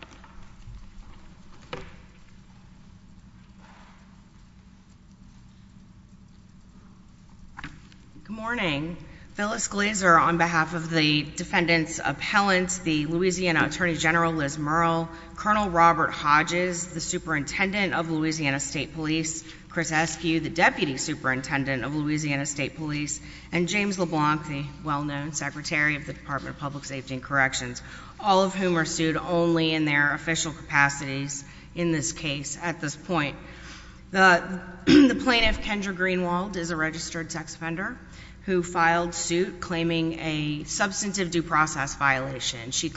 Good morning. Phyllis Glaser on behalf of the defendant's appellant, the Louisiana Attorney General Liz Murrill, Colonel Robert Hodges, the Superintendent of Louisiana State Police, Chris Eskew, the Deputy Superintendent of Louisiana State Police, and James LeBlanc, the well-known Secretary of the Department of Public Safety and Corrections, all of whom are sued only in their official capacities in this case at this point. The plaintiff, Kendra Greenwald, is a registered sex offender who filed suit claiming a substantive due process violation. She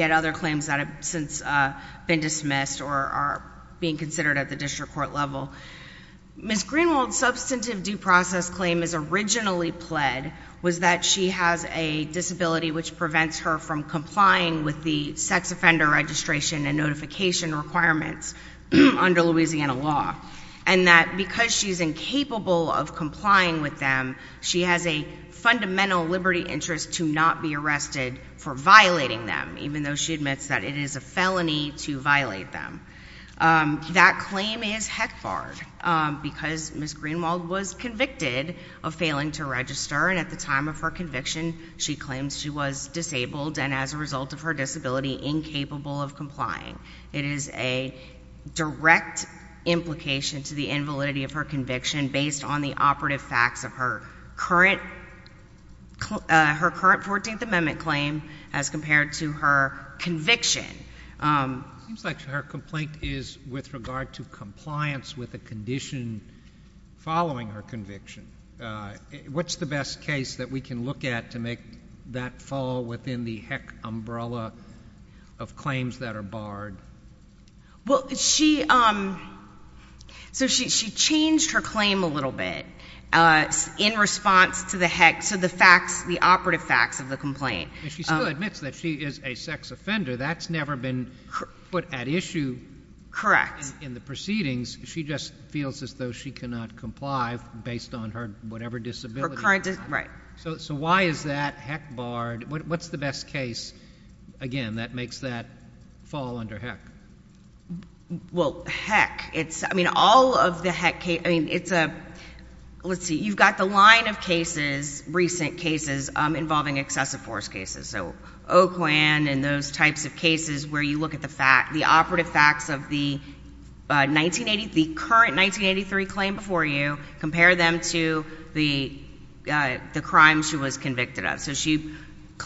had other claims that have since been dismissed or are being considered at the district court level. Ms. Greenwald's substantive due process claim is originally pled was that she has a disability which prevents her from complying with the sex offender registration and notification requirements under Louisiana law, and that because she's incapable of complying with them, she has a fundamental liberty interest to not be arrested for violating them, even though she admits that it is a felony to violate them. That claim is heck-barred because Ms. Greenwald was convicted of failing to register, and at the time of her conviction, she claims she was disabled and as a result of her disability, incapable of complying. It is a direct implication to the invalidity of her conviction based on the operative facts of her current 14th Amendment claim as compared to her conviction. It seems like her complaint is with regard to compliance with a condition following her conviction. What's the best case that we can look at to make that fall within the heck umbrella of claims that are barred? Well, she, so she changed her claim a little bit in response to the heck, so the facts, the operative facts of the complaint. And she still admits that she is a sex offender. That's never been put at issue in the proceedings. She just feels as though she cannot comply based on her whatever disability. So why is that heck-barred? What's the best case, again, that makes that fall under heck? Well, heck, it's, I mean, all of the heck cases, I mean, it's a, let's see, you've got the line of cases, recent cases involving excessive force cases, so Oakland and those types of cases where you look at the fact, the operative facts of the 1980, the current 1983 claim before you, compare them to the crime she was convicted of. So she,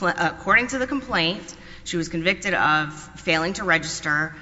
according to the complaint, she was convicted of failing to register.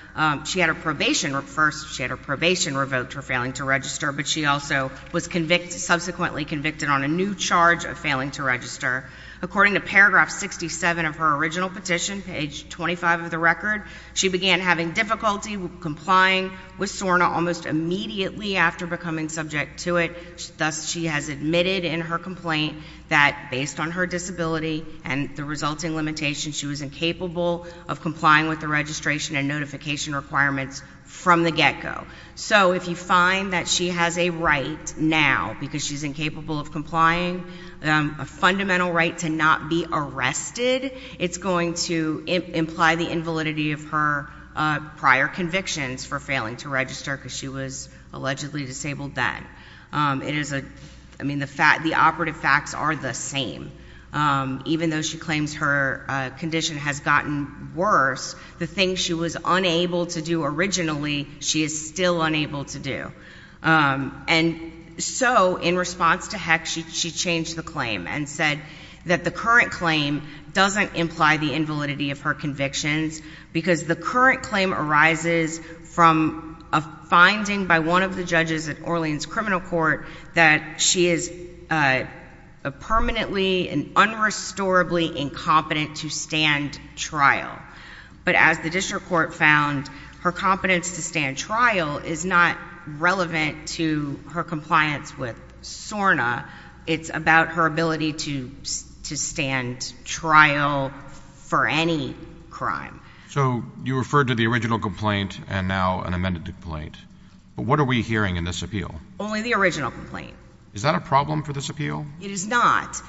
She had her probation, first she had her probation revoked for failing to register, but she also was convicted, subsequently convicted on a new charge of failing to register. According to paragraph 67 of her original petition, page 25 of the record, she began having difficulty with complying with SORNA almost immediately after becoming subject to it. Thus, she has admitted in her complaint that based on her disability and the resulting limitations, she was incapable of complying with the registration and notification requirements from the get-go. So if you find that she has a right now because she's incapable of complying, a fundamental right to not be arrested, it's going to imply the invalidity of her prior convictions for failing to register because she was allegedly disabled then. It is a, I mean, the fact, the operative facts are the same. Even though she claims her condition has gotten worse, the thing she was unable to do originally, she is still unable to do. And so in response to Heck, she changed the claim and said that the current claim doesn't imply the invalidity of her convictions because the current claim arises from a finding by one of the judges at Orleans Criminal Court that she is permanently and unrestorably incompetent to stand trial. But as the district court found, her competence to stand trial is not relevant to her compliance with SORNA. It's about her ability to stand trial for any crime. So you referred to the original complaint and now an amended complaint, but what are we hearing in this appeal? Only the original complaint. Is that a problem for this appeal? It is not.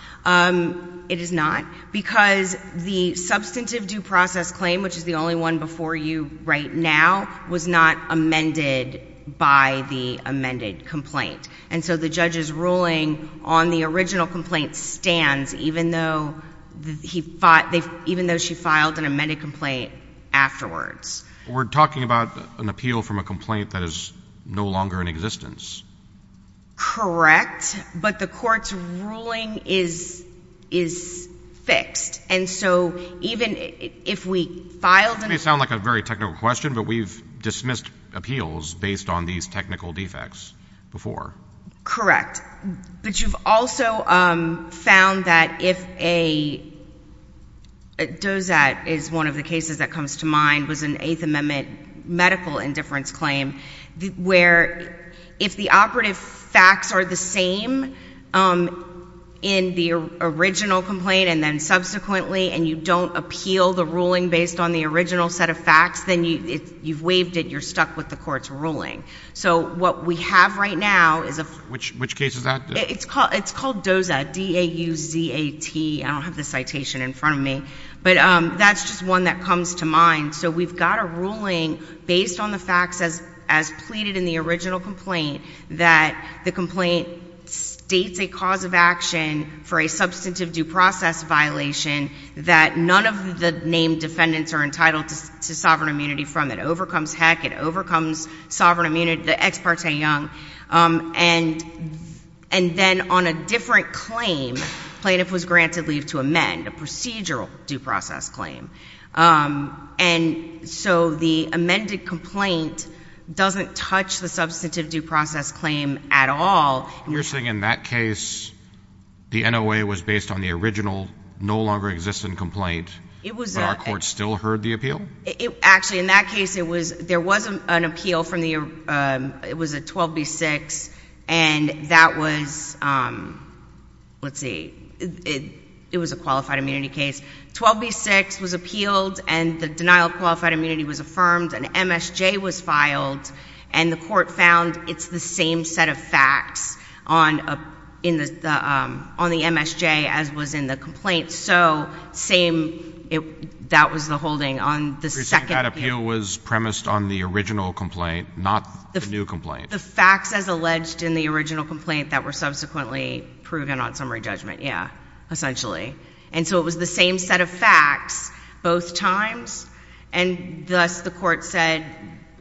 It is not because the substantive due process claim, which is the only one before you right now, was not amended by the amended complaint. And so the judge's ruling on the original complaint stands even though he fought, even though she filed an amended complaint afterwards. We're talking about an appeal from a complaint that is no longer in existence. Correct. But the court's ruling is fixed. And so even if we filed an appeal... It may sound like a very technical question, but we've dismissed appeals based on these technical defects before. Correct. But you've also found that if a... A dozat is one of the cases that comes to mind, was an Eighth Amendment medical indifference claim, where if the operative facts are the same in the original complaint and then subsequently and you don't appeal the ruling based on the original set of facts, then you've waived it. You're stuck with the court's ruling. So what we have right now is a... Which case is that? It's called dozat. D-A-U-Z-A-T. I don't have the citation in front of me, but that's just one that comes to mind. And so we've got a ruling based on the facts as pleaded in the original complaint that the complaint states a cause of action for a substantive due process violation that none of the named defendants are entitled to sovereign immunity from. It overcomes HECC. It overcomes sovereign immunity, the ex parte young. And then on a different claim, plaintiff was granted leave to amend, a procedural due process claim. And so the amended complaint doesn't touch the substantive due process claim at all. You're saying in that case, the NOA was based on the original, no longer existent complaint. It was... But our court still heard the appeal? Actually, in that case, it was... There was an appeal from the... It was a 12B-6 and that was, let's see, it was a qualified immunity case. 12B-6 was appealed and the denial of qualified immunity was affirmed and MSJ was filed and the court found it's the same set of facts on the MSJ as was in the complaint. So same, that was the holding on the second appeal. You're saying that appeal was premised on the original complaint, not the new complaint? The facts as alleged in the original complaint that were subsequently proven on summary judgment, yeah, essentially. And so it was the same set of facts both times and thus the court said,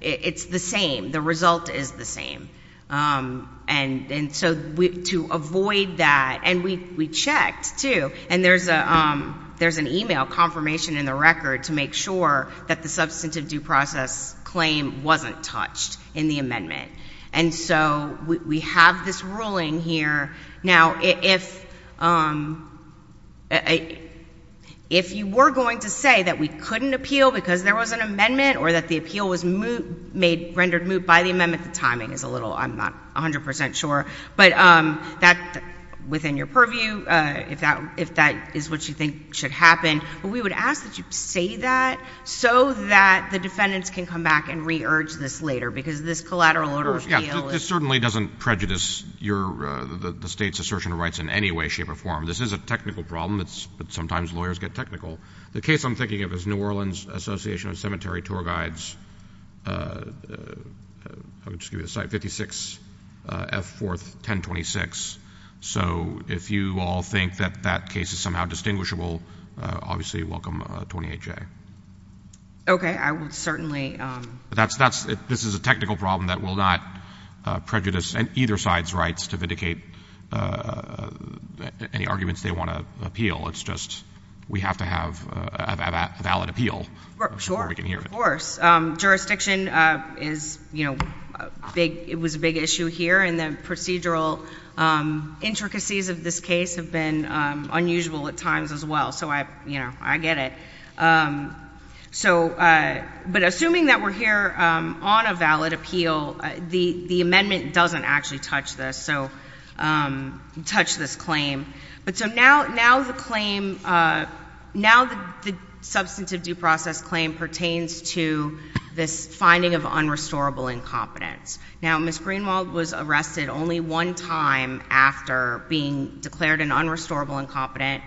it's the same. The result is the same. And so to avoid that, and we checked too, and there's an email confirmation in the record to make sure that the substantive due process claim wasn't touched in the amendment. And so we have this ruling here. Now, if you were going to say that we couldn't appeal because there was an amendment or that the appeal was rendered moot by the amendment, the timing is a little, I'm not 100% sure, but that, within your purview, if that is what you think should happen, but we would ask that you say that so that the defendants can come back and re-urge this later because this collateral order appeal is... The state's assertion of rights in any way, shape, or form. This is a technical problem, but sometimes lawyers get technical. The case I'm thinking of is New Orleans Association of Cemetery Tour Guides, 56F 4th 1026. So if you all think that that case is somehow distinguishable, obviously welcome 28J. Okay. I would certainly... This is a technical problem that will not prejudice either side's rights to vindicate any arguments they want to appeal. It's just we have to have a valid appeal before we can hear it. Sure. Of course. Jurisdiction was a big issue here and the procedural intricacies of this case have been unusual at times as well. So I get it. So, but assuming that we're here on a valid appeal, the amendment doesn't actually touch this, so, touch this claim. But so now the claim, now the substantive due process claim pertains to this finding of unrestorable incompetence. Now Ms. Greenwald was arrested only one time after being declared an unrestorable incompetent.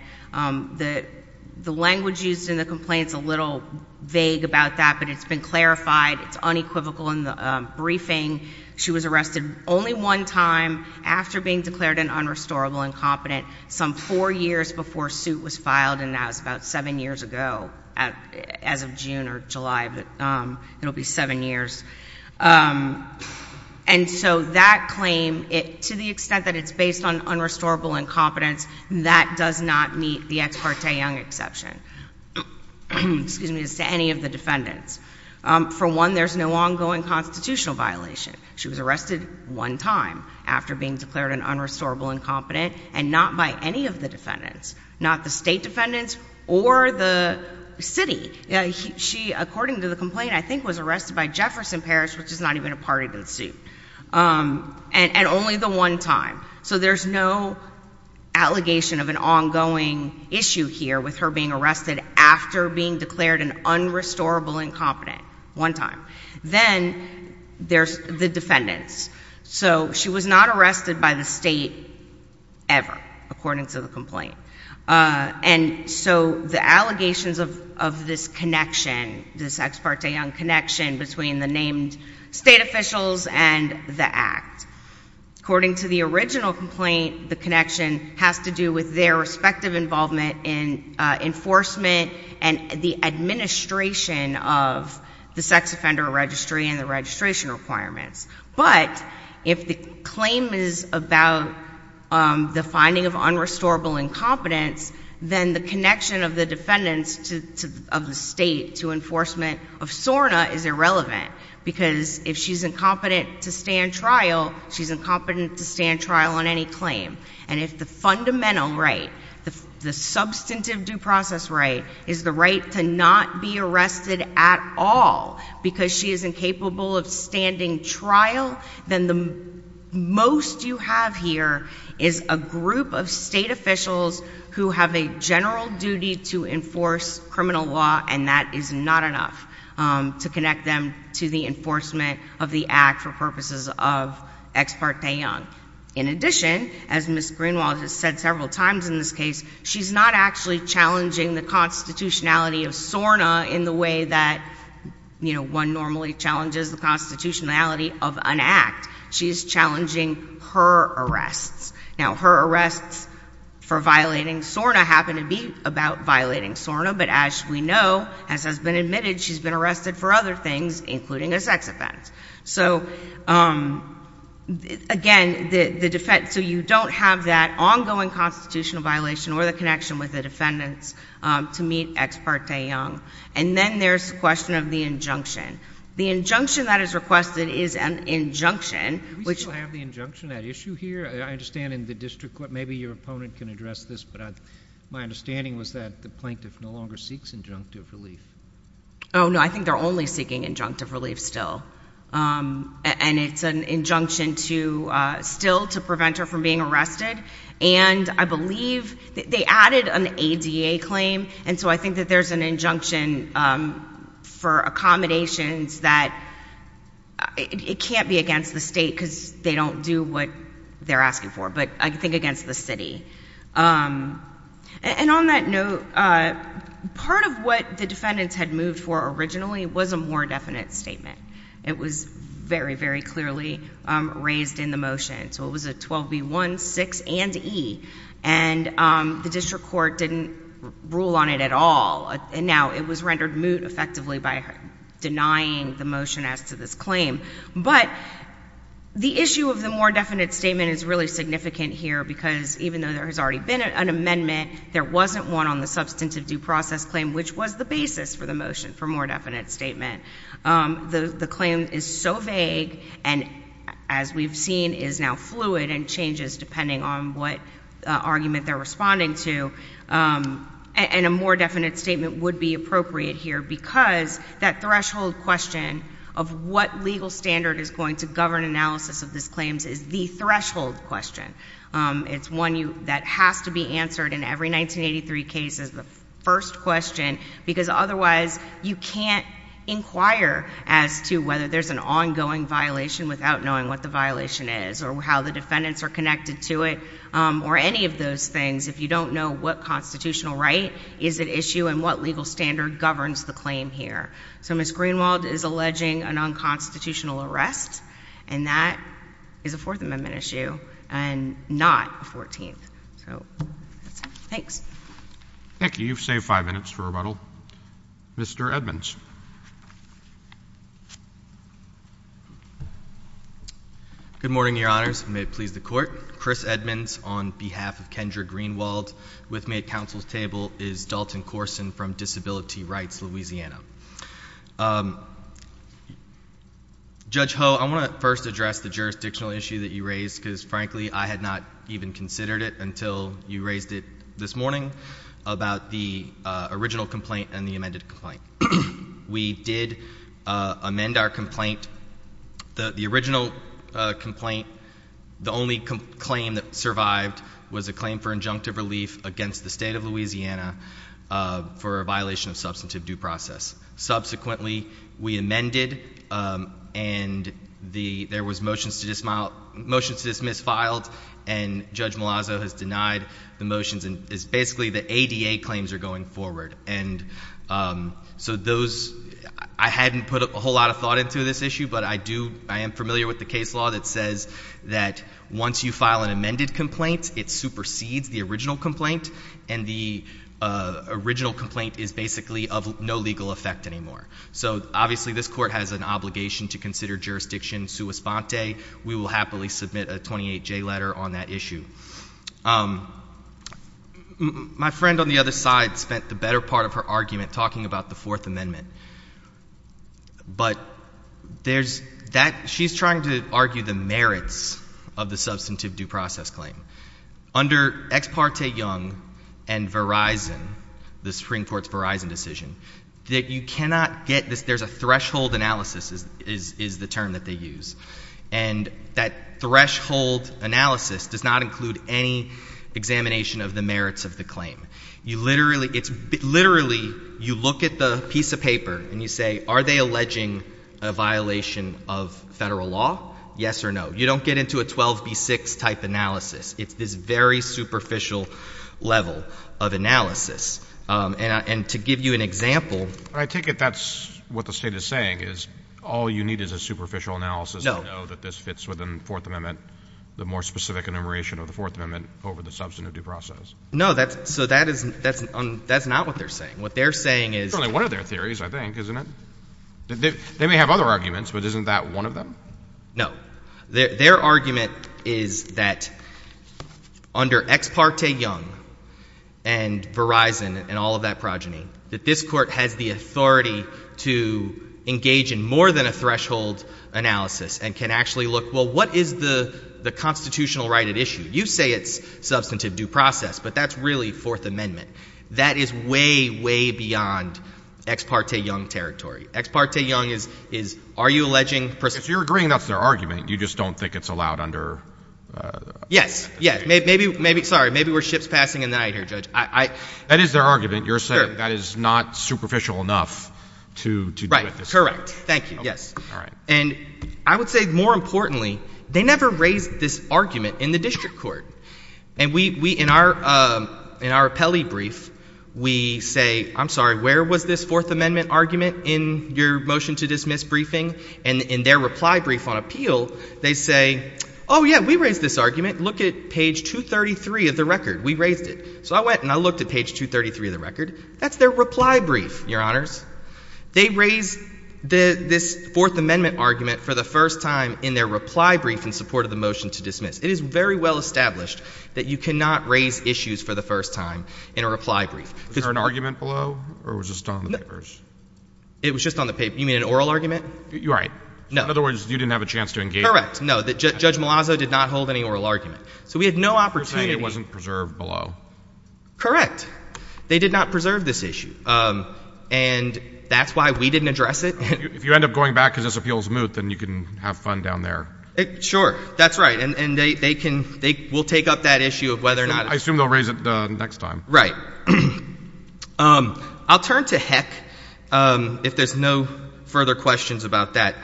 The language used in the complaint's a little vague about that, but it's been clarified. It's unequivocal in the briefing. She was arrested only one time after being declared an unrestorable incompetent, some four years before suit was filed, and that was about seven years ago, as of June or July, but it'll be seven years. And so that claim, to the extent that it's based on unrestorable incompetence, that does not meet the ex parte Young exception, excuse me, as to any of the defendants. For one, there's no ongoing constitutional violation. She was arrested one time after being declared an unrestorable incompetent and not by any of the defendants, not the state defendants or the city. She according to the complaint, I think was arrested by Jefferson Parish, which is not even a party to the suit, and only the one time. So there's no allegation of an ongoing issue here with her being arrested after being declared an unrestorable incompetent one time. Then there's the defendants. So she was not arrested by the state ever, according to the complaint. And so the allegations of this connection, this ex parte Young connection between the named state officials and the Act. According to the original complaint, the connection has to do with their respective involvement in enforcement and the administration of the sex offender registry and the registration requirements. But if the claim is about the finding of unrestorable incompetence, then the connection of the defendants of the state to enforcement of SORNA is irrelevant, because if she's incompetent to stand trial, she's incompetent to stand trial on any claim. And if the fundamental right, the substantive due process right, is the right to not be arrested at all because she is incapable of standing trial, then the most you have here is a group of state officials who have a general duty to enforce criminal law and that is not enough to connect them to the enforcement of the Act for purposes of ex parte Young. In addition, as Ms. Greenwald has said several times in this case, she's not actually challenging the constitutionality of SORNA in the way that one normally challenges the constitutionality of an Act. She's challenging her arrests. Now her arrests for violating SORNA happen to be about violating SORNA, but as we know, as has been admitted, she's been arrested for other things, including a sex offense. So again, the defense, so you don't have that ongoing constitutional violation or the connection with the defendants to meet ex parte Young. And then there's the question of the injunction. The injunction that is requested is an injunction, which— Do we still have the injunction at issue here? I understand in the district court, maybe your opponent can address this, but my understanding was that the plaintiff no longer seeks injunctive relief. Oh, no, I think they're only seeking injunctive relief still. And it's an injunction still to prevent her from being arrested. And I believe they added an ADA claim, and so I think that there's an injunction for accommodations that—it can't be against the state because they don't do what they're asking for, but I think against the city. And on that note, part of what the defendants had moved for originally was a more definite statement. It was very, very clearly raised in the motion. So it was a 12B1, 6, and E. And the district court didn't rule on it at all, and now it was rendered moot effectively by denying the motion as to this claim. But the issue of the more definite statement is really significant here because even though there has already been an amendment, there wasn't one on the substantive due process claim, which was the basis for the motion for more definite statement. The claim is so vague and, as we've seen, is now fluid and changes depending on what argument they're responding to. And a more definite statement would be appropriate here because that threshold question of what legal standard is going to govern analysis of these claims is the threshold question. It's one that has to be answered in every 1983 case as the first question because otherwise you can't inquire as to whether there's an ongoing violation without knowing what the violation is or how the defendants are connected to it or any of those things if you don't know what constitutional right is at issue and what legal standard governs the claim here. So Ms. Greenwald is alleging an unconstitutional arrest, and that is a Fourth Amendment issue. And not a Fourteenth. So, that's it. Thanks. Thank you. You've saved five minutes for rebuttal. Mr. Edmonds. Good morning, Your Honors. May it please the Court. Chris Edmonds on behalf of Kendra Greenwald. With me at counsel's table is Dalton Corson from Disability Rights, Louisiana. Judge Ho, I want to first address the jurisdictional issue that you raised because frankly I had not even considered it until you raised it this morning about the original complaint and the amended complaint. We did amend our complaint. The original complaint, the only claim that survived was a claim for injunctive relief against the state of Louisiana for a violation of substantive due process. Subsequently, we amended and there was motions to dismiss filed and Judge Malazzo has denied the motions and it's basically the ADA claims are going forward. And so those, I hadn't put a whole lot of thought into this issue, but I do, I am familiar with the case law that says that once you file an amended complaint, it supersedes the original complaint and the original complaint is basically of no legal effect anymore. So obviously this Court has an obligation to consider jurisdiction sua sponte. We will happily submit a 28-J letter on that issue. My friend on the other side spent the better part of her argument talking about the Fourth Amendment. But there's that, she's trying to argue the merits of the substantive due process claim. Under Ex parte Young and Verizon, the Supreme Court's Verizon decision, that you cannot get this, there's a threshold analysis is, is, is the term that they use. And that threshold analysis does not include any examination of the merits of the claim. You literally, it's literally, you look at the piece of paper and you say, are they alleging a violation of federal law? Yes or no. You don't get into a 12B6 type analysis. It's this very superficial level of analysis. And to give you an example. I take it that's what the state is saying is all you need is a superficial analysis to know that this fits within the Fourth Amendment, the more specific enumeration of the Fourth Amendment over the substantive due process. No, that's, so that is, that's, that's not what they're saying. What they're saying is. It's only one of their theories, I think, isn't it? They may have other arguments, but isn't that one of them? No. Their, their argument is that under Ex parte Young and Verizon and all of that progeny, that this Court has the authority to engage in more than a threshold analysis and can actually look, well, what is the, the constitutional right at issue? You say it's substantive due process, but that's really Fourth Amendment. That is way, way beyond Ex parte Young territory. Ex parte Young is, is, are you alleging. If you're agreeing that's their argument, you just don't think it's allowed under. Yes. Yes. Maybe, maybe. Sorry. Maybe we're ships passing in the night here, Judge. I, I. That is their argument. You're saying that is not superficial enough to, to do it this way. Right. Correct. Thank you. Yes. All right. And I would say more importantly, they never raised this argument in the district court. And we, we, in our, in our appellee brief, we say, I'm sorry, where was this Fourth Amendment argument in your motion to dismiss briefing? And in their reply brief on appeal, they say, oh yeah, we raised this argument. Look at page 233 of the record. We raised it. So I went and I looked at page 233 of the record. That's their reply brief, your honors. They raised the, this Fourth Amendment argument for the first time in their reply brief in support of the motion to dismiss. It is very well established that you cannot raise issues for the first time in a reply brief. Is there an argument below or was just on the papers? It was just on the paper. You mean, you mean an oral argument? You're right. No. In other words, you didn't have a chance to engage. Correct. No. Judge Malazzo did not hold any oral argument. So we had no opportunity. You're saying it wasn't preserved below. Correct. They did not preserve this issue. And that's why we didn't address it. If you end up going back because this appeal is moot, then you can have fun down there. Sure. That's right. And they, they can, they will take up that issue of whether or not. I assume they'll raise it next time. Right. All right. I'll turn to Heck if there's no further questions about that.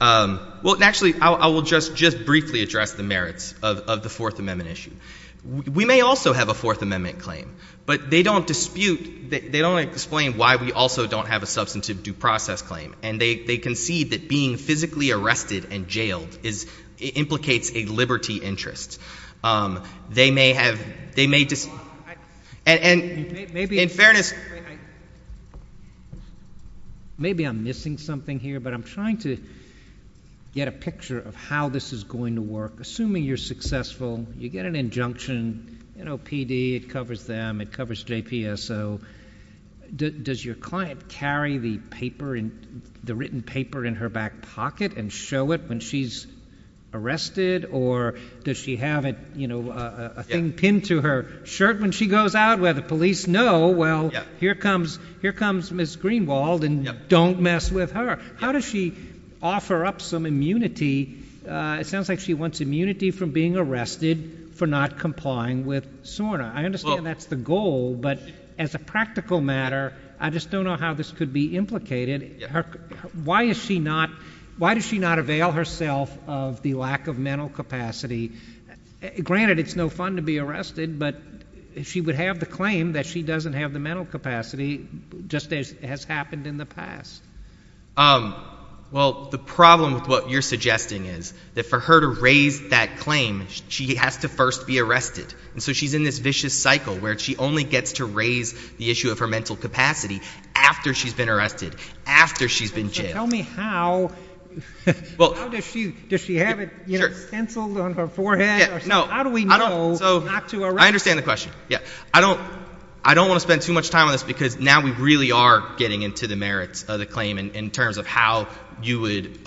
Well, actually, I will just, just briefly address the merits of, of the Fourth Amendment issue. We may also have a Fourth Amendment claim, but they don't dispute, they don't explain why we also don't have a substantive due process claim. And they concede that being physically arrested and jailed is, implicates a liberty interest. They may have, they may just, and, and in fairness. Maybe I'm missing something here, but I'm trying to get a picture of how this is going to work. Assuming you're successful, you get an injunction, you know, PD, it covers them, it covers JPSO. Does your client carry the paper in, the written paper in her back pocket and show it when she's arrested or does she have it, you know, a thing pinned to her shirt when she goes out where the police know, well, here comes, here comes Ms. Greenwald and don't mess with her. How does she offer up some immunity? It sounds like she wants immunity from being arrested for not complying with SORNA. I understand that's the goal, but as a practical matter, I just don't know how this could be implicated. Why is she not, why does she not avail herself of the lack of mental capacity? Granted, it's no fun to be arrested, but if she would have the claim that she doesn't have the mental capacity, just as has happened in the past. Well, the problem with what you're suggesting is that for her to raise that claim, she has to first be arrested. And so she's in this vicious cycle where she only gets to raise the issue of her mental capacity after she's been arrested, after she's been jailed. So tell me how, how does she, does she have it, you know, stenciled on her forehead? No. How do we know not to arrest her? I understand the question. Yeah. I don't, I don't want to spend too much time on this because now we really are getting into the merits of the claim in terms of how you would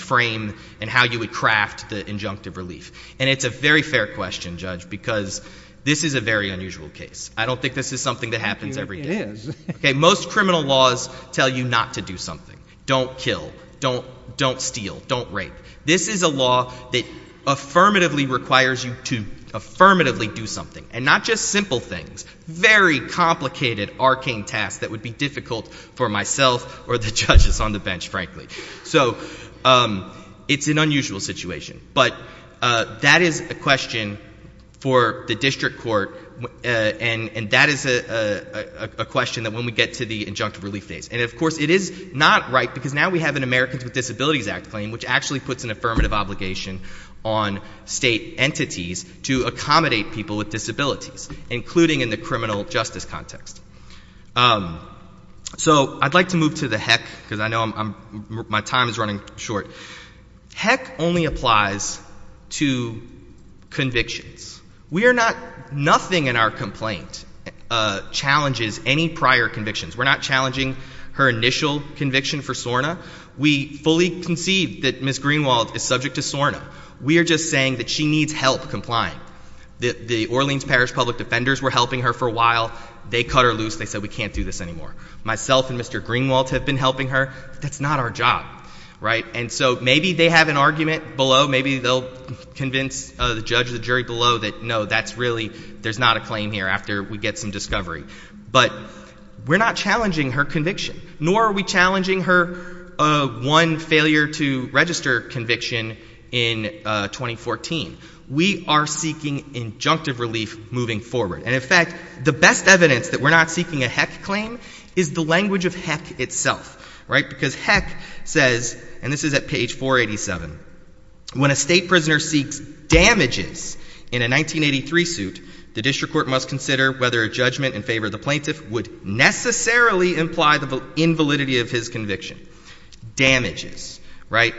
frame and how you would craft the injunctive relief. And it's a very fair question, Judge, because this is a very unusual case. I don't think this is something that happens every day. It is. Okay. Most criminal laws tell you not to do something. Don't kill. Don't, don't steal. Don't rape. This is a law that affirmatively requires you to affirmatively do something and not just simple things, very complicated arcane tasks that would be difficult for myself or the judges on the bench, frankly. So it's an unusual situation, but that is a question for the district court. And that is a question that when we get to the injunctive relief phase, and of course it is not right because now we have an Americans with Disabilities Act claim, which actually puts an affirmative obligation on state entities to accommodate people with disabilities, including in the criminal justice context. So, I'd like to move to the HEC, because I know my time is running short. HEC only applies to convictions. We are not, nothing in our complaint challenges any prior convictions. We're not challenging her initial conviction for SORNA. We fully conceive that Ms. Greenwald is subject to SORNA. We are just saying that she needs help complying. The Orleans Parish Public Defenders were helping her for a while. They cut her loose. They said, we can't do this anymore. Myself and Mr. Greenwald have been helping her. That's not our job, right? And so maybe they have an argument below. Maybe they'll convince the judge or the jury below that, no, that's really, there's not a claim here after we get some discovery. But we're not challenging her conviction, nor are we challenging her one failure to register conviction in 2014. We are seeking injunctive relief moving forward. And in fact, the best evidence that we're not seeking a HEC claim is the language of HEC itself, right? Because HEC says, and this is at page 487, when a state prisoner seeks damages in a 1983 suit, the district court must consider whether a judgment in favor of the plaintiff would necessarily imply the invalidity of his conviction. Damages, right?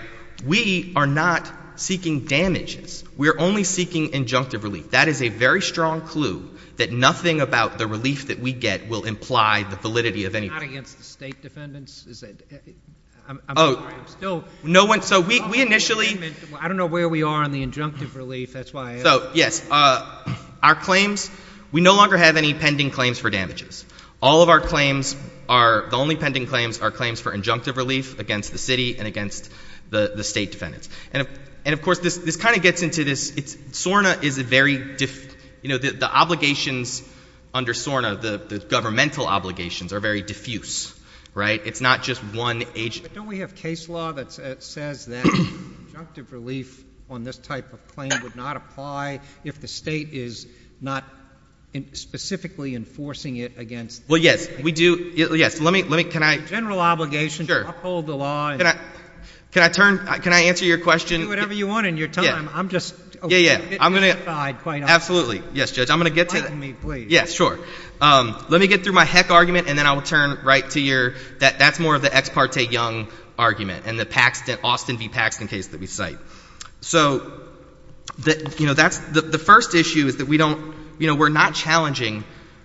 We are not seeking damages. We are only seeking injunctive relief. That is a very strong clue that nothing about the relief that we get will imply the validity of anything. Not against the state defendants? Is that? I'm sorry. I'm still... No one. So we initially... I don't know where we are on the injunctive relief. That's why I... So, yes. Our claims, we no longer have any pending claims for damages. All of our claims are, the only pending claims are claims for injunctive relief against the city and against the state defendants. And of course, this kind of gets into this, SORNA is a very, you know, the obligations under SORNA, the governmental obligations, are very diffuse, right? It's not just one agency. But don't we have case law that says that injunctive relief on this type of claim would not apply if the state is not specifically enforcing it against... Well, yes. We do. Let me, can I... General obligation to uphold the law... Sure. Can I... Can I turn... Can I answer your question? Do whatever you want in your time. Yeah. I'm just... Yeah, yeah. I'm going to... ...quite honest. Absolutely. Yes, Judge. I'm going to get to that. Pardon me, please. Yeah, sure. Let me get through my heck argument and then I will turn right to your... That's more of the ex parte young argument and the Paxton, Austin v. Paxton case that we cite. So, you know, that's... The first issue is that we don't, you know, we're not challenging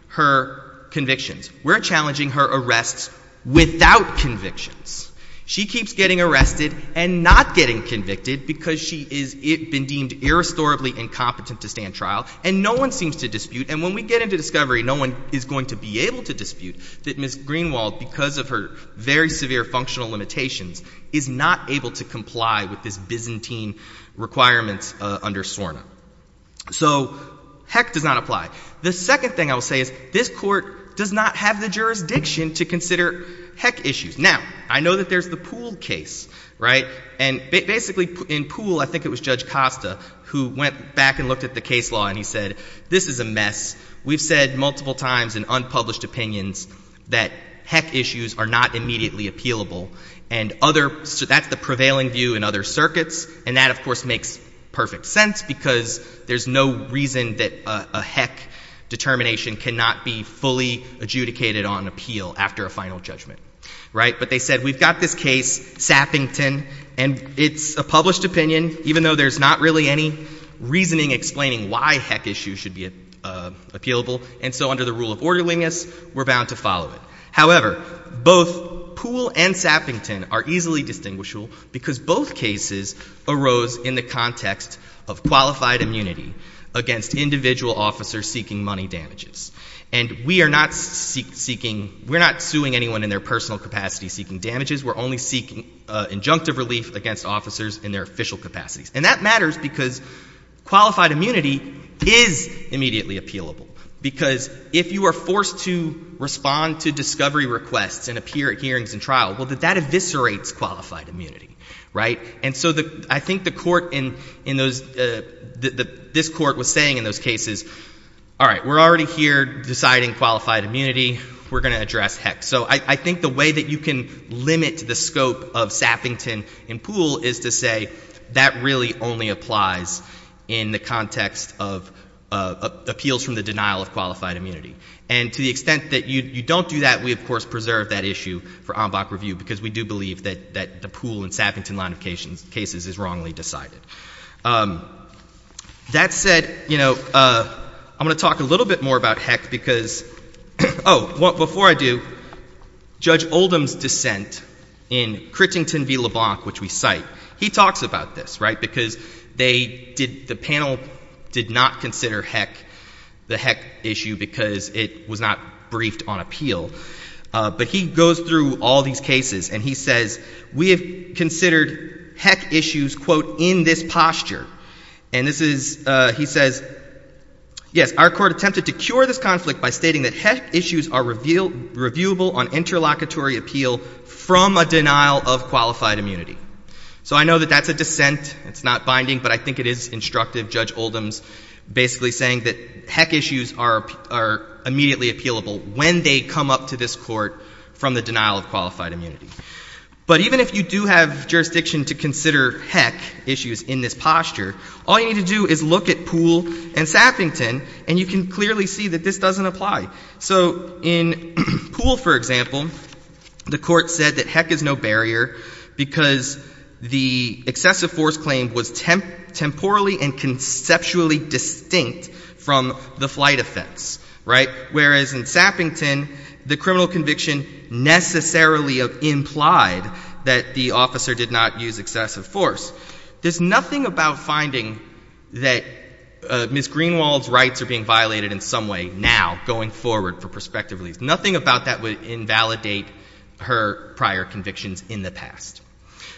her convictions. We're challenging her arrests without convictions. She keeps getting arrested and not getting convicted because she is, it, been deemed irrestorably incompetent to stand trial and no one seems to dispute. And when we get into discovery, no one is going to be able to dispute that Ms. Greenwald, because of her very severe functional limitations, is not able to comply with this Byzantine requirements under SORNA. So heck does not apply. The second thing I will say is this court does not have the jurisdiction to consider heck issues. Now, I know that there's the Poole case, right? And basically, in Poole, I think it was Judge Costa who went back and looked at the case law and he said, this is a mess. We've said multiple times in unpublished opinions that heck issues are not immediately appealable and other... So that's the prevailing view in other circuits and that, of course, makes perfect sense because there's no reason that a heck determination cannot be fully adjudicated on appeal after a final judgment. Right? But they said, we've got this case, Sappington, and it's a published opinion, even though there's not really any reasoning explaining why heck issues should be appealable. And so under the rule of orderliness, we're bound to follow it. However, both Poole and Sappington are easily distinguishable because both cases arose in the context of qualified immunity against individual officers seeking money damages. And we are not seeking... We're not suing anyone in their personal capacity seeking damages. We're only seeking injunctive relief against officers in their official capacities. And that matters because qualified immunity is immediately appealable because if you are forced to respond to discovery requests and appear at hearings and trial, well, that eviscerates qualified immunity, right? And so I think the court in those... All right. We're already here deciding qualified immunity. We're going to address heck. So I think the way that you can limit the scope of Sappington and Poole is to say that really only applies in the context of appeals from the denial of qualified immunity. And to the extent that you don't do that, we of course preserve that issue for en bloc review because we do believe that the Poole and Sappington line of cases is wrongly decided. That said, you know, I'm going to talk a little bit more about heck because... Oh, before I do, Judge Oldham's dissent in Crittington v. LeBlanc, which we cite, he talks about this, right, because they did... The panel did not consider heck, the heck issue, because it was not briefed on appeal. But he goes through all these cases and he says, we have considered heck issues, quote, in this posture. And this is... He says, yes, our court attempted to cure this conflict by stating that heck issues are reviewable on interlocutory appeal from a denial of qualified immunity. So I know that that's a dissent. It's not binding. But I think it is instructive, Judge Oldham's basically saying that heck issues are immediately appealable when they come up to this court from the denial of qualified immunity. But even if you do have jurisdiction to consider heck issues in this posture, all you need to do is look at Poole and Sappington, and you can clearly see that this doesn't apply. So in Poole, for example, the court said that heck is no barrier because the excessive force claim was temporally and conceptually distinct from the flight offense, right? It implied that the officer did not use excessive force. There's nothing about finding that Ms. Greenwald's rights are being violated in some way now going forward for prospective release. Nothing about that would invalidate her prior convictions in the past.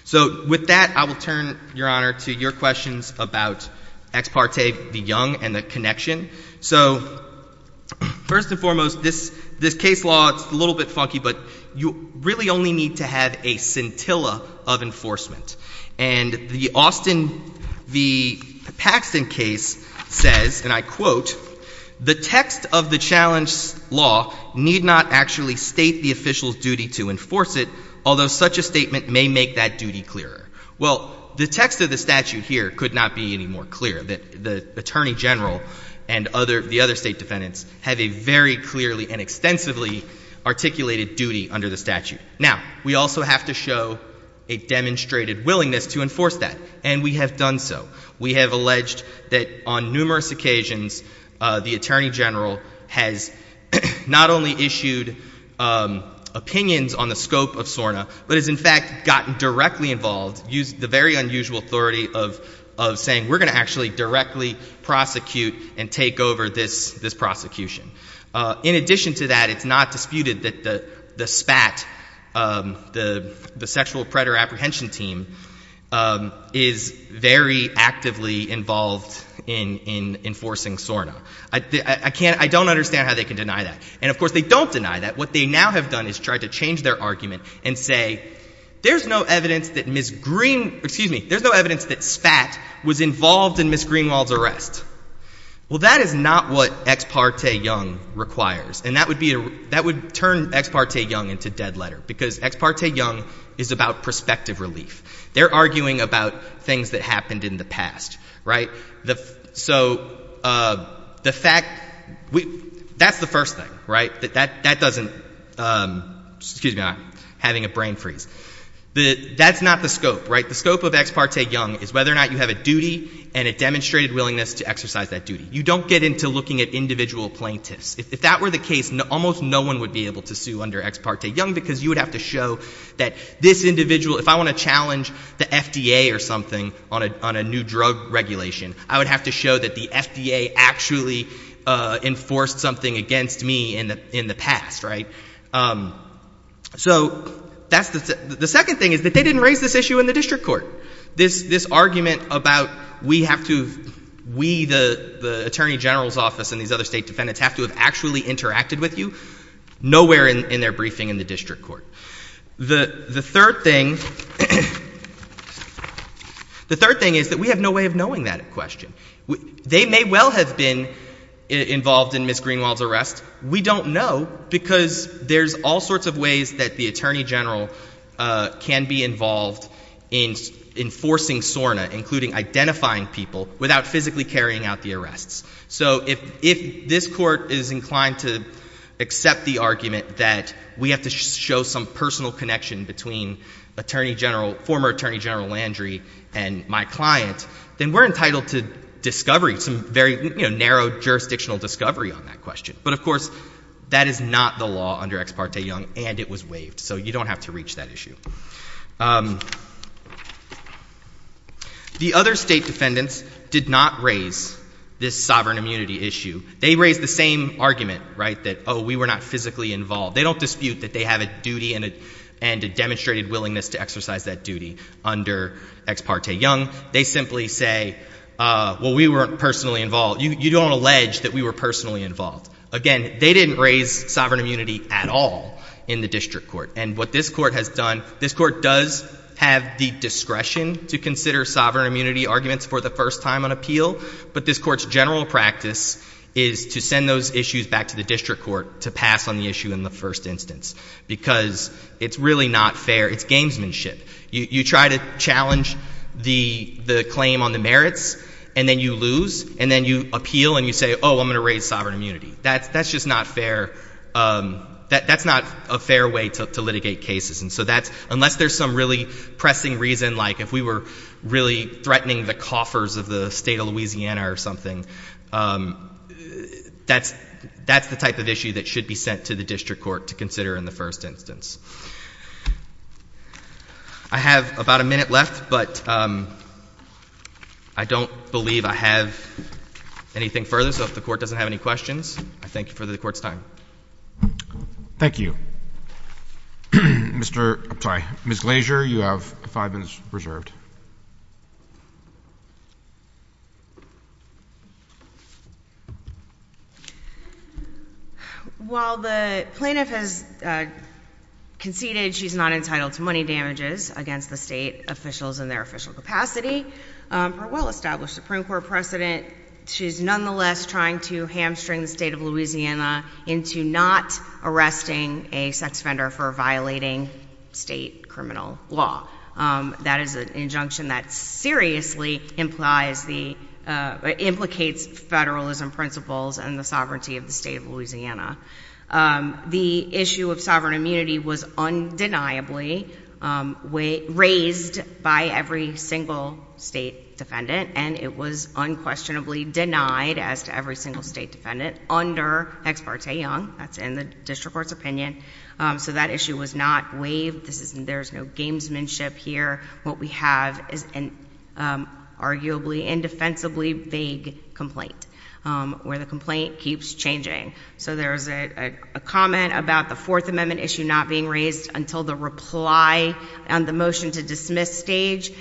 So with that, I will turn, Your Honor, to your questions about ex parte, the young, and the connection. So first and foremost, this case law, it's a little bit funky, but you really only need to have a scintilla of enforcement. And the Austin, the Paxton case says, and I quote, the text of the challenge law need not actually state the official's duty to enforce it, although such a statement may make that duty clearer. Well, the text of the statute here could not be any more clear. The Attorney General and the other State defendants have a very clearly and extensively articulated duty under the statute. Now, we also have to show a demonstrated willingness to enforce that, and we have done so. We have alleged that on numerous occasions, the Attorney General has not only issued opinions on the scope of SORNA, but has in fact gotten directly involved, used the very unusual authority of saying, we're going to actually directly prosecute and take over this prosecution. In addition to that, it's not disputed that the SPAT, the Sexual Predator Apprehension Team, is very actively involved in enforcing SORNA. I don't understand how they can deny that. And of course, they don't deny that. What they now have done is tried to change their argument and say, there's no evidence that Ms. Green, excuse me, there's no evidence that SPAT was involved in Ms. Greenwald's arrest. Well, that is not what Ex Parte Young requires, and that would turn Ex Parte Young into dead letter because Ex Parte Young is about perspective relief. They're arguing about things that happened in the past, right? So the fact, that's the first thing, right? That doesn't, excuse me, I'm having a brain freeze. That's not the scope, right? The scope of Ex Parte Young is whether or not you have a duty and a demonstrated willingness to exercise that duty. You don't get into looking at individual plaintiffs. If that were the case, almost no one would be able to sue under Ex Parte Young because you would have to show that this individual, if I want to challenge the FDA or something on a new drug regulation, I would have to show that the FDA actually enforced something against me in the past, right? So the second thing is that they didn't raise this issue in the district court. This argument about we have to, we, the attorney general's office and these other state defendants have to have actually interacted with you, nowhere in their briefing in the district court. The third thing, the third thing is that we have no way of knowing that at question. They may well have been involved in Ms. Greenwald's arrest. We don't know because there's all sorts of ways that the attorney general can be involved in enforcing SORNA, including identifying people without physically carrying out the arrests. So if this court is inclined to accept the argument that we have to show some personal connection between attorney general, former attorney general Landry and my client, then we're entitled to discovery, some very narrow jurisdictional discovery on that question. But of course, that is not the law under Ex Parte Young and it was waived. So you don't have to reach that issue. The other state defendants did not raise this sovereign immunity issue. They raised the same argument, right, that, oh, we were not physically involved. They don't dispute that they have a duty and a demonstrated willingness to exercise that duty under Ex Parte Young. They simply say, well, we weren't personally involved. You don't allege that we were personally involved. Again, they didn't raise sovereign immunity at all in the district court. And what this court has done, this court does have the discretion to consider sovereign immunity arguments for the first time on appeal, but this court's general practice is to send those issues back to the district court to pass on the issue in the first instance because it's really not fair. It's gamesmanship. You try to challenge the claim on the merits and then you lose and then you appeal and you say, oh, I'm going to raise sovereign immunity. That's just not fair. That's not a fair way to litigate cases. And so that's, unless there's some really pressing reason, like if we were really threatening the coffers of the state of Louisiana or something, that's the type of issue that should be sent to the district court to consider in the first instance. I have about a minute left, but I don't believe I have anything further, so if the Court doesn't have any questions, I thank you for the Court's time. Thank you. Mr. — I'm sorry, Ms. Glazer, you have five minutes reserved. While the plaintiff has conceded she's not entitled to money damages against the state officials in their official capacity, her well-established Supreme Court precedent, she's nonetheless trying to hamstring the state of Louisiana into not arresting a sex offender for violating state criminal law. That is an injunction that seriously implies the — implicates federalism principles and the sovereignty of the state of Louisiana. The issue of sovereign immunity was undeniably raised by every single state defendant, and it was unquestionably denied as to every single state defendant under Ex parte Young. That's in the district court's opinion. So that issue was not waived. This isn't — there's no gamesmanship here. What we have is an arguably indefensibly vague complaint, where the complaint keeps changing. So there's a comment about the Fourth Amendment issue not being raised until the reply and the motion to dismiss stage.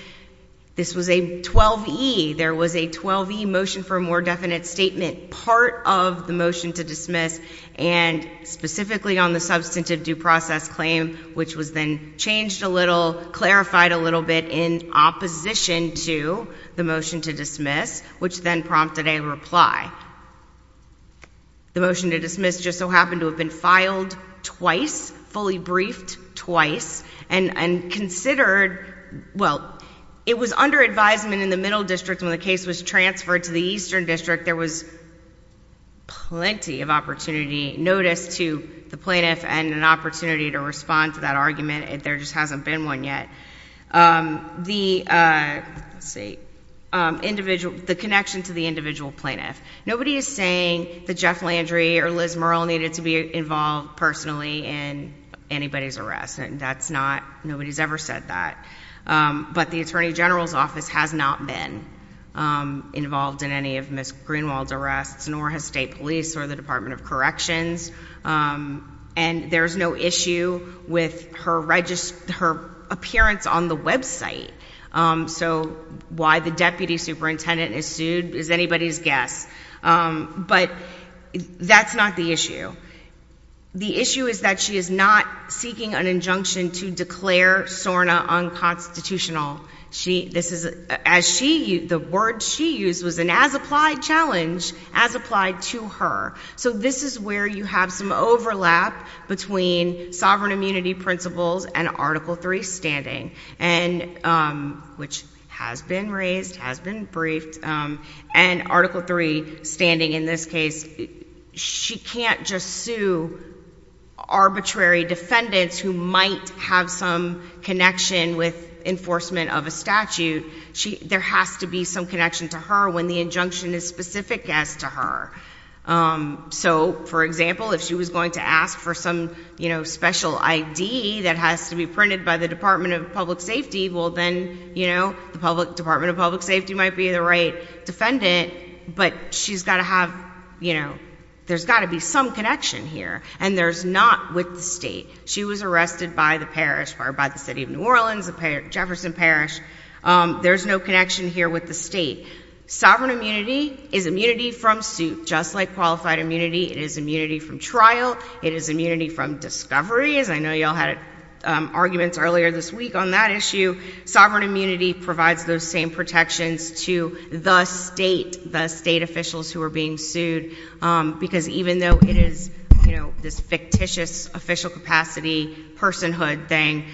This was a 12E. There was a 12E motion for a more definite statement, part of the motion to dismiss, and specifically on the substantive due process claim, which was then changed a little, clarified a little bit in opposition to the motion to dismiss, which then prompted a reply. The motion to dismiss just so happened to have been filed twice, fully briefed twice, and considered — well, it was under advisement in the Middle District when the case was transferred to the Eastern District. There was plenty of opportunity, notice to the plaintiff and an opportunity to respond to that argument. There just hasn't been one yet. The — let's see — the connection to the individual plaintiff. Nobody is saying that Jeff Landry or Liz Murrell needed to be involved personally in anybody's arrest. That's not — nobody's ever said that. But the attorney general's office has not been involved in any of Ms. Greenwald's arrests, nor has state police or the Department of Corrections. And there's no issue with her appearance on the website. So why the deputy superintendent is sued is anybody's guess. But that's not the issue. The issue is that she is not seeking an injunction to declare SORNA unconstitutional. She — this is — as she — the word she used was an as-applied challenge, as applied to her. So this is where you have some overlap between sovereign immunity principles and Article 3 standing, and — which has been raised, has been briefed — and Article 3 standing in this case. She can't just sue arbitrary defendants who might have some connection with enforcement of a statute. There has to be some connection to her when the injunction is specific as to her. So for example, if she was going to ask for some, you know, special I.D. that has to be printed by the Department of Public Safety, well then, you know, the Department of Public Safety would have — you know, there's got to be some connection here. And there's not with the state. She was arrested by the parish — or by the city of New Orleans, the Jefferson Parish. There's no connection here with the state. Sovereign immunity is immunity from suit, just like qualified immunity. It is immunity from trial. It is immunity from discovery, as I know you all had arguments earlier this week on that issue. Sovereign immunity provides those same protections to the state, the state officials who are being sued, because even though it is, you know, this fictitious official capacity personhood thing,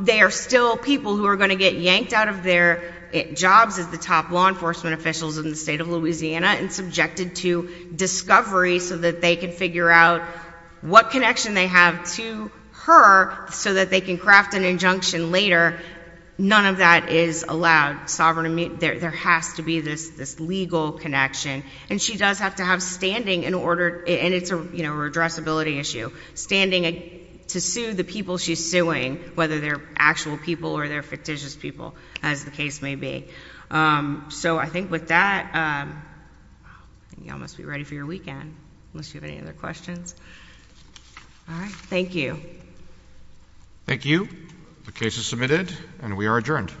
they are still people who are going to get yanked out of their jobs as the top law enforcement officials in the state of Louisiana and subjected to discovery so that they can figure out what connection they have to her so that they can craft an injunction later. None of that is allowed. There has to be this legal connection. And she does have to have standing in order — and it's a redressability issue — standing to sue the people she's suing, whether they're actual people or they're fictitious people, as the case may be. So I think with that, you all must be ready for your weekend, unless you have any other questions. All right. Thank you. Thank you. The case is submitted, and we are adjourned.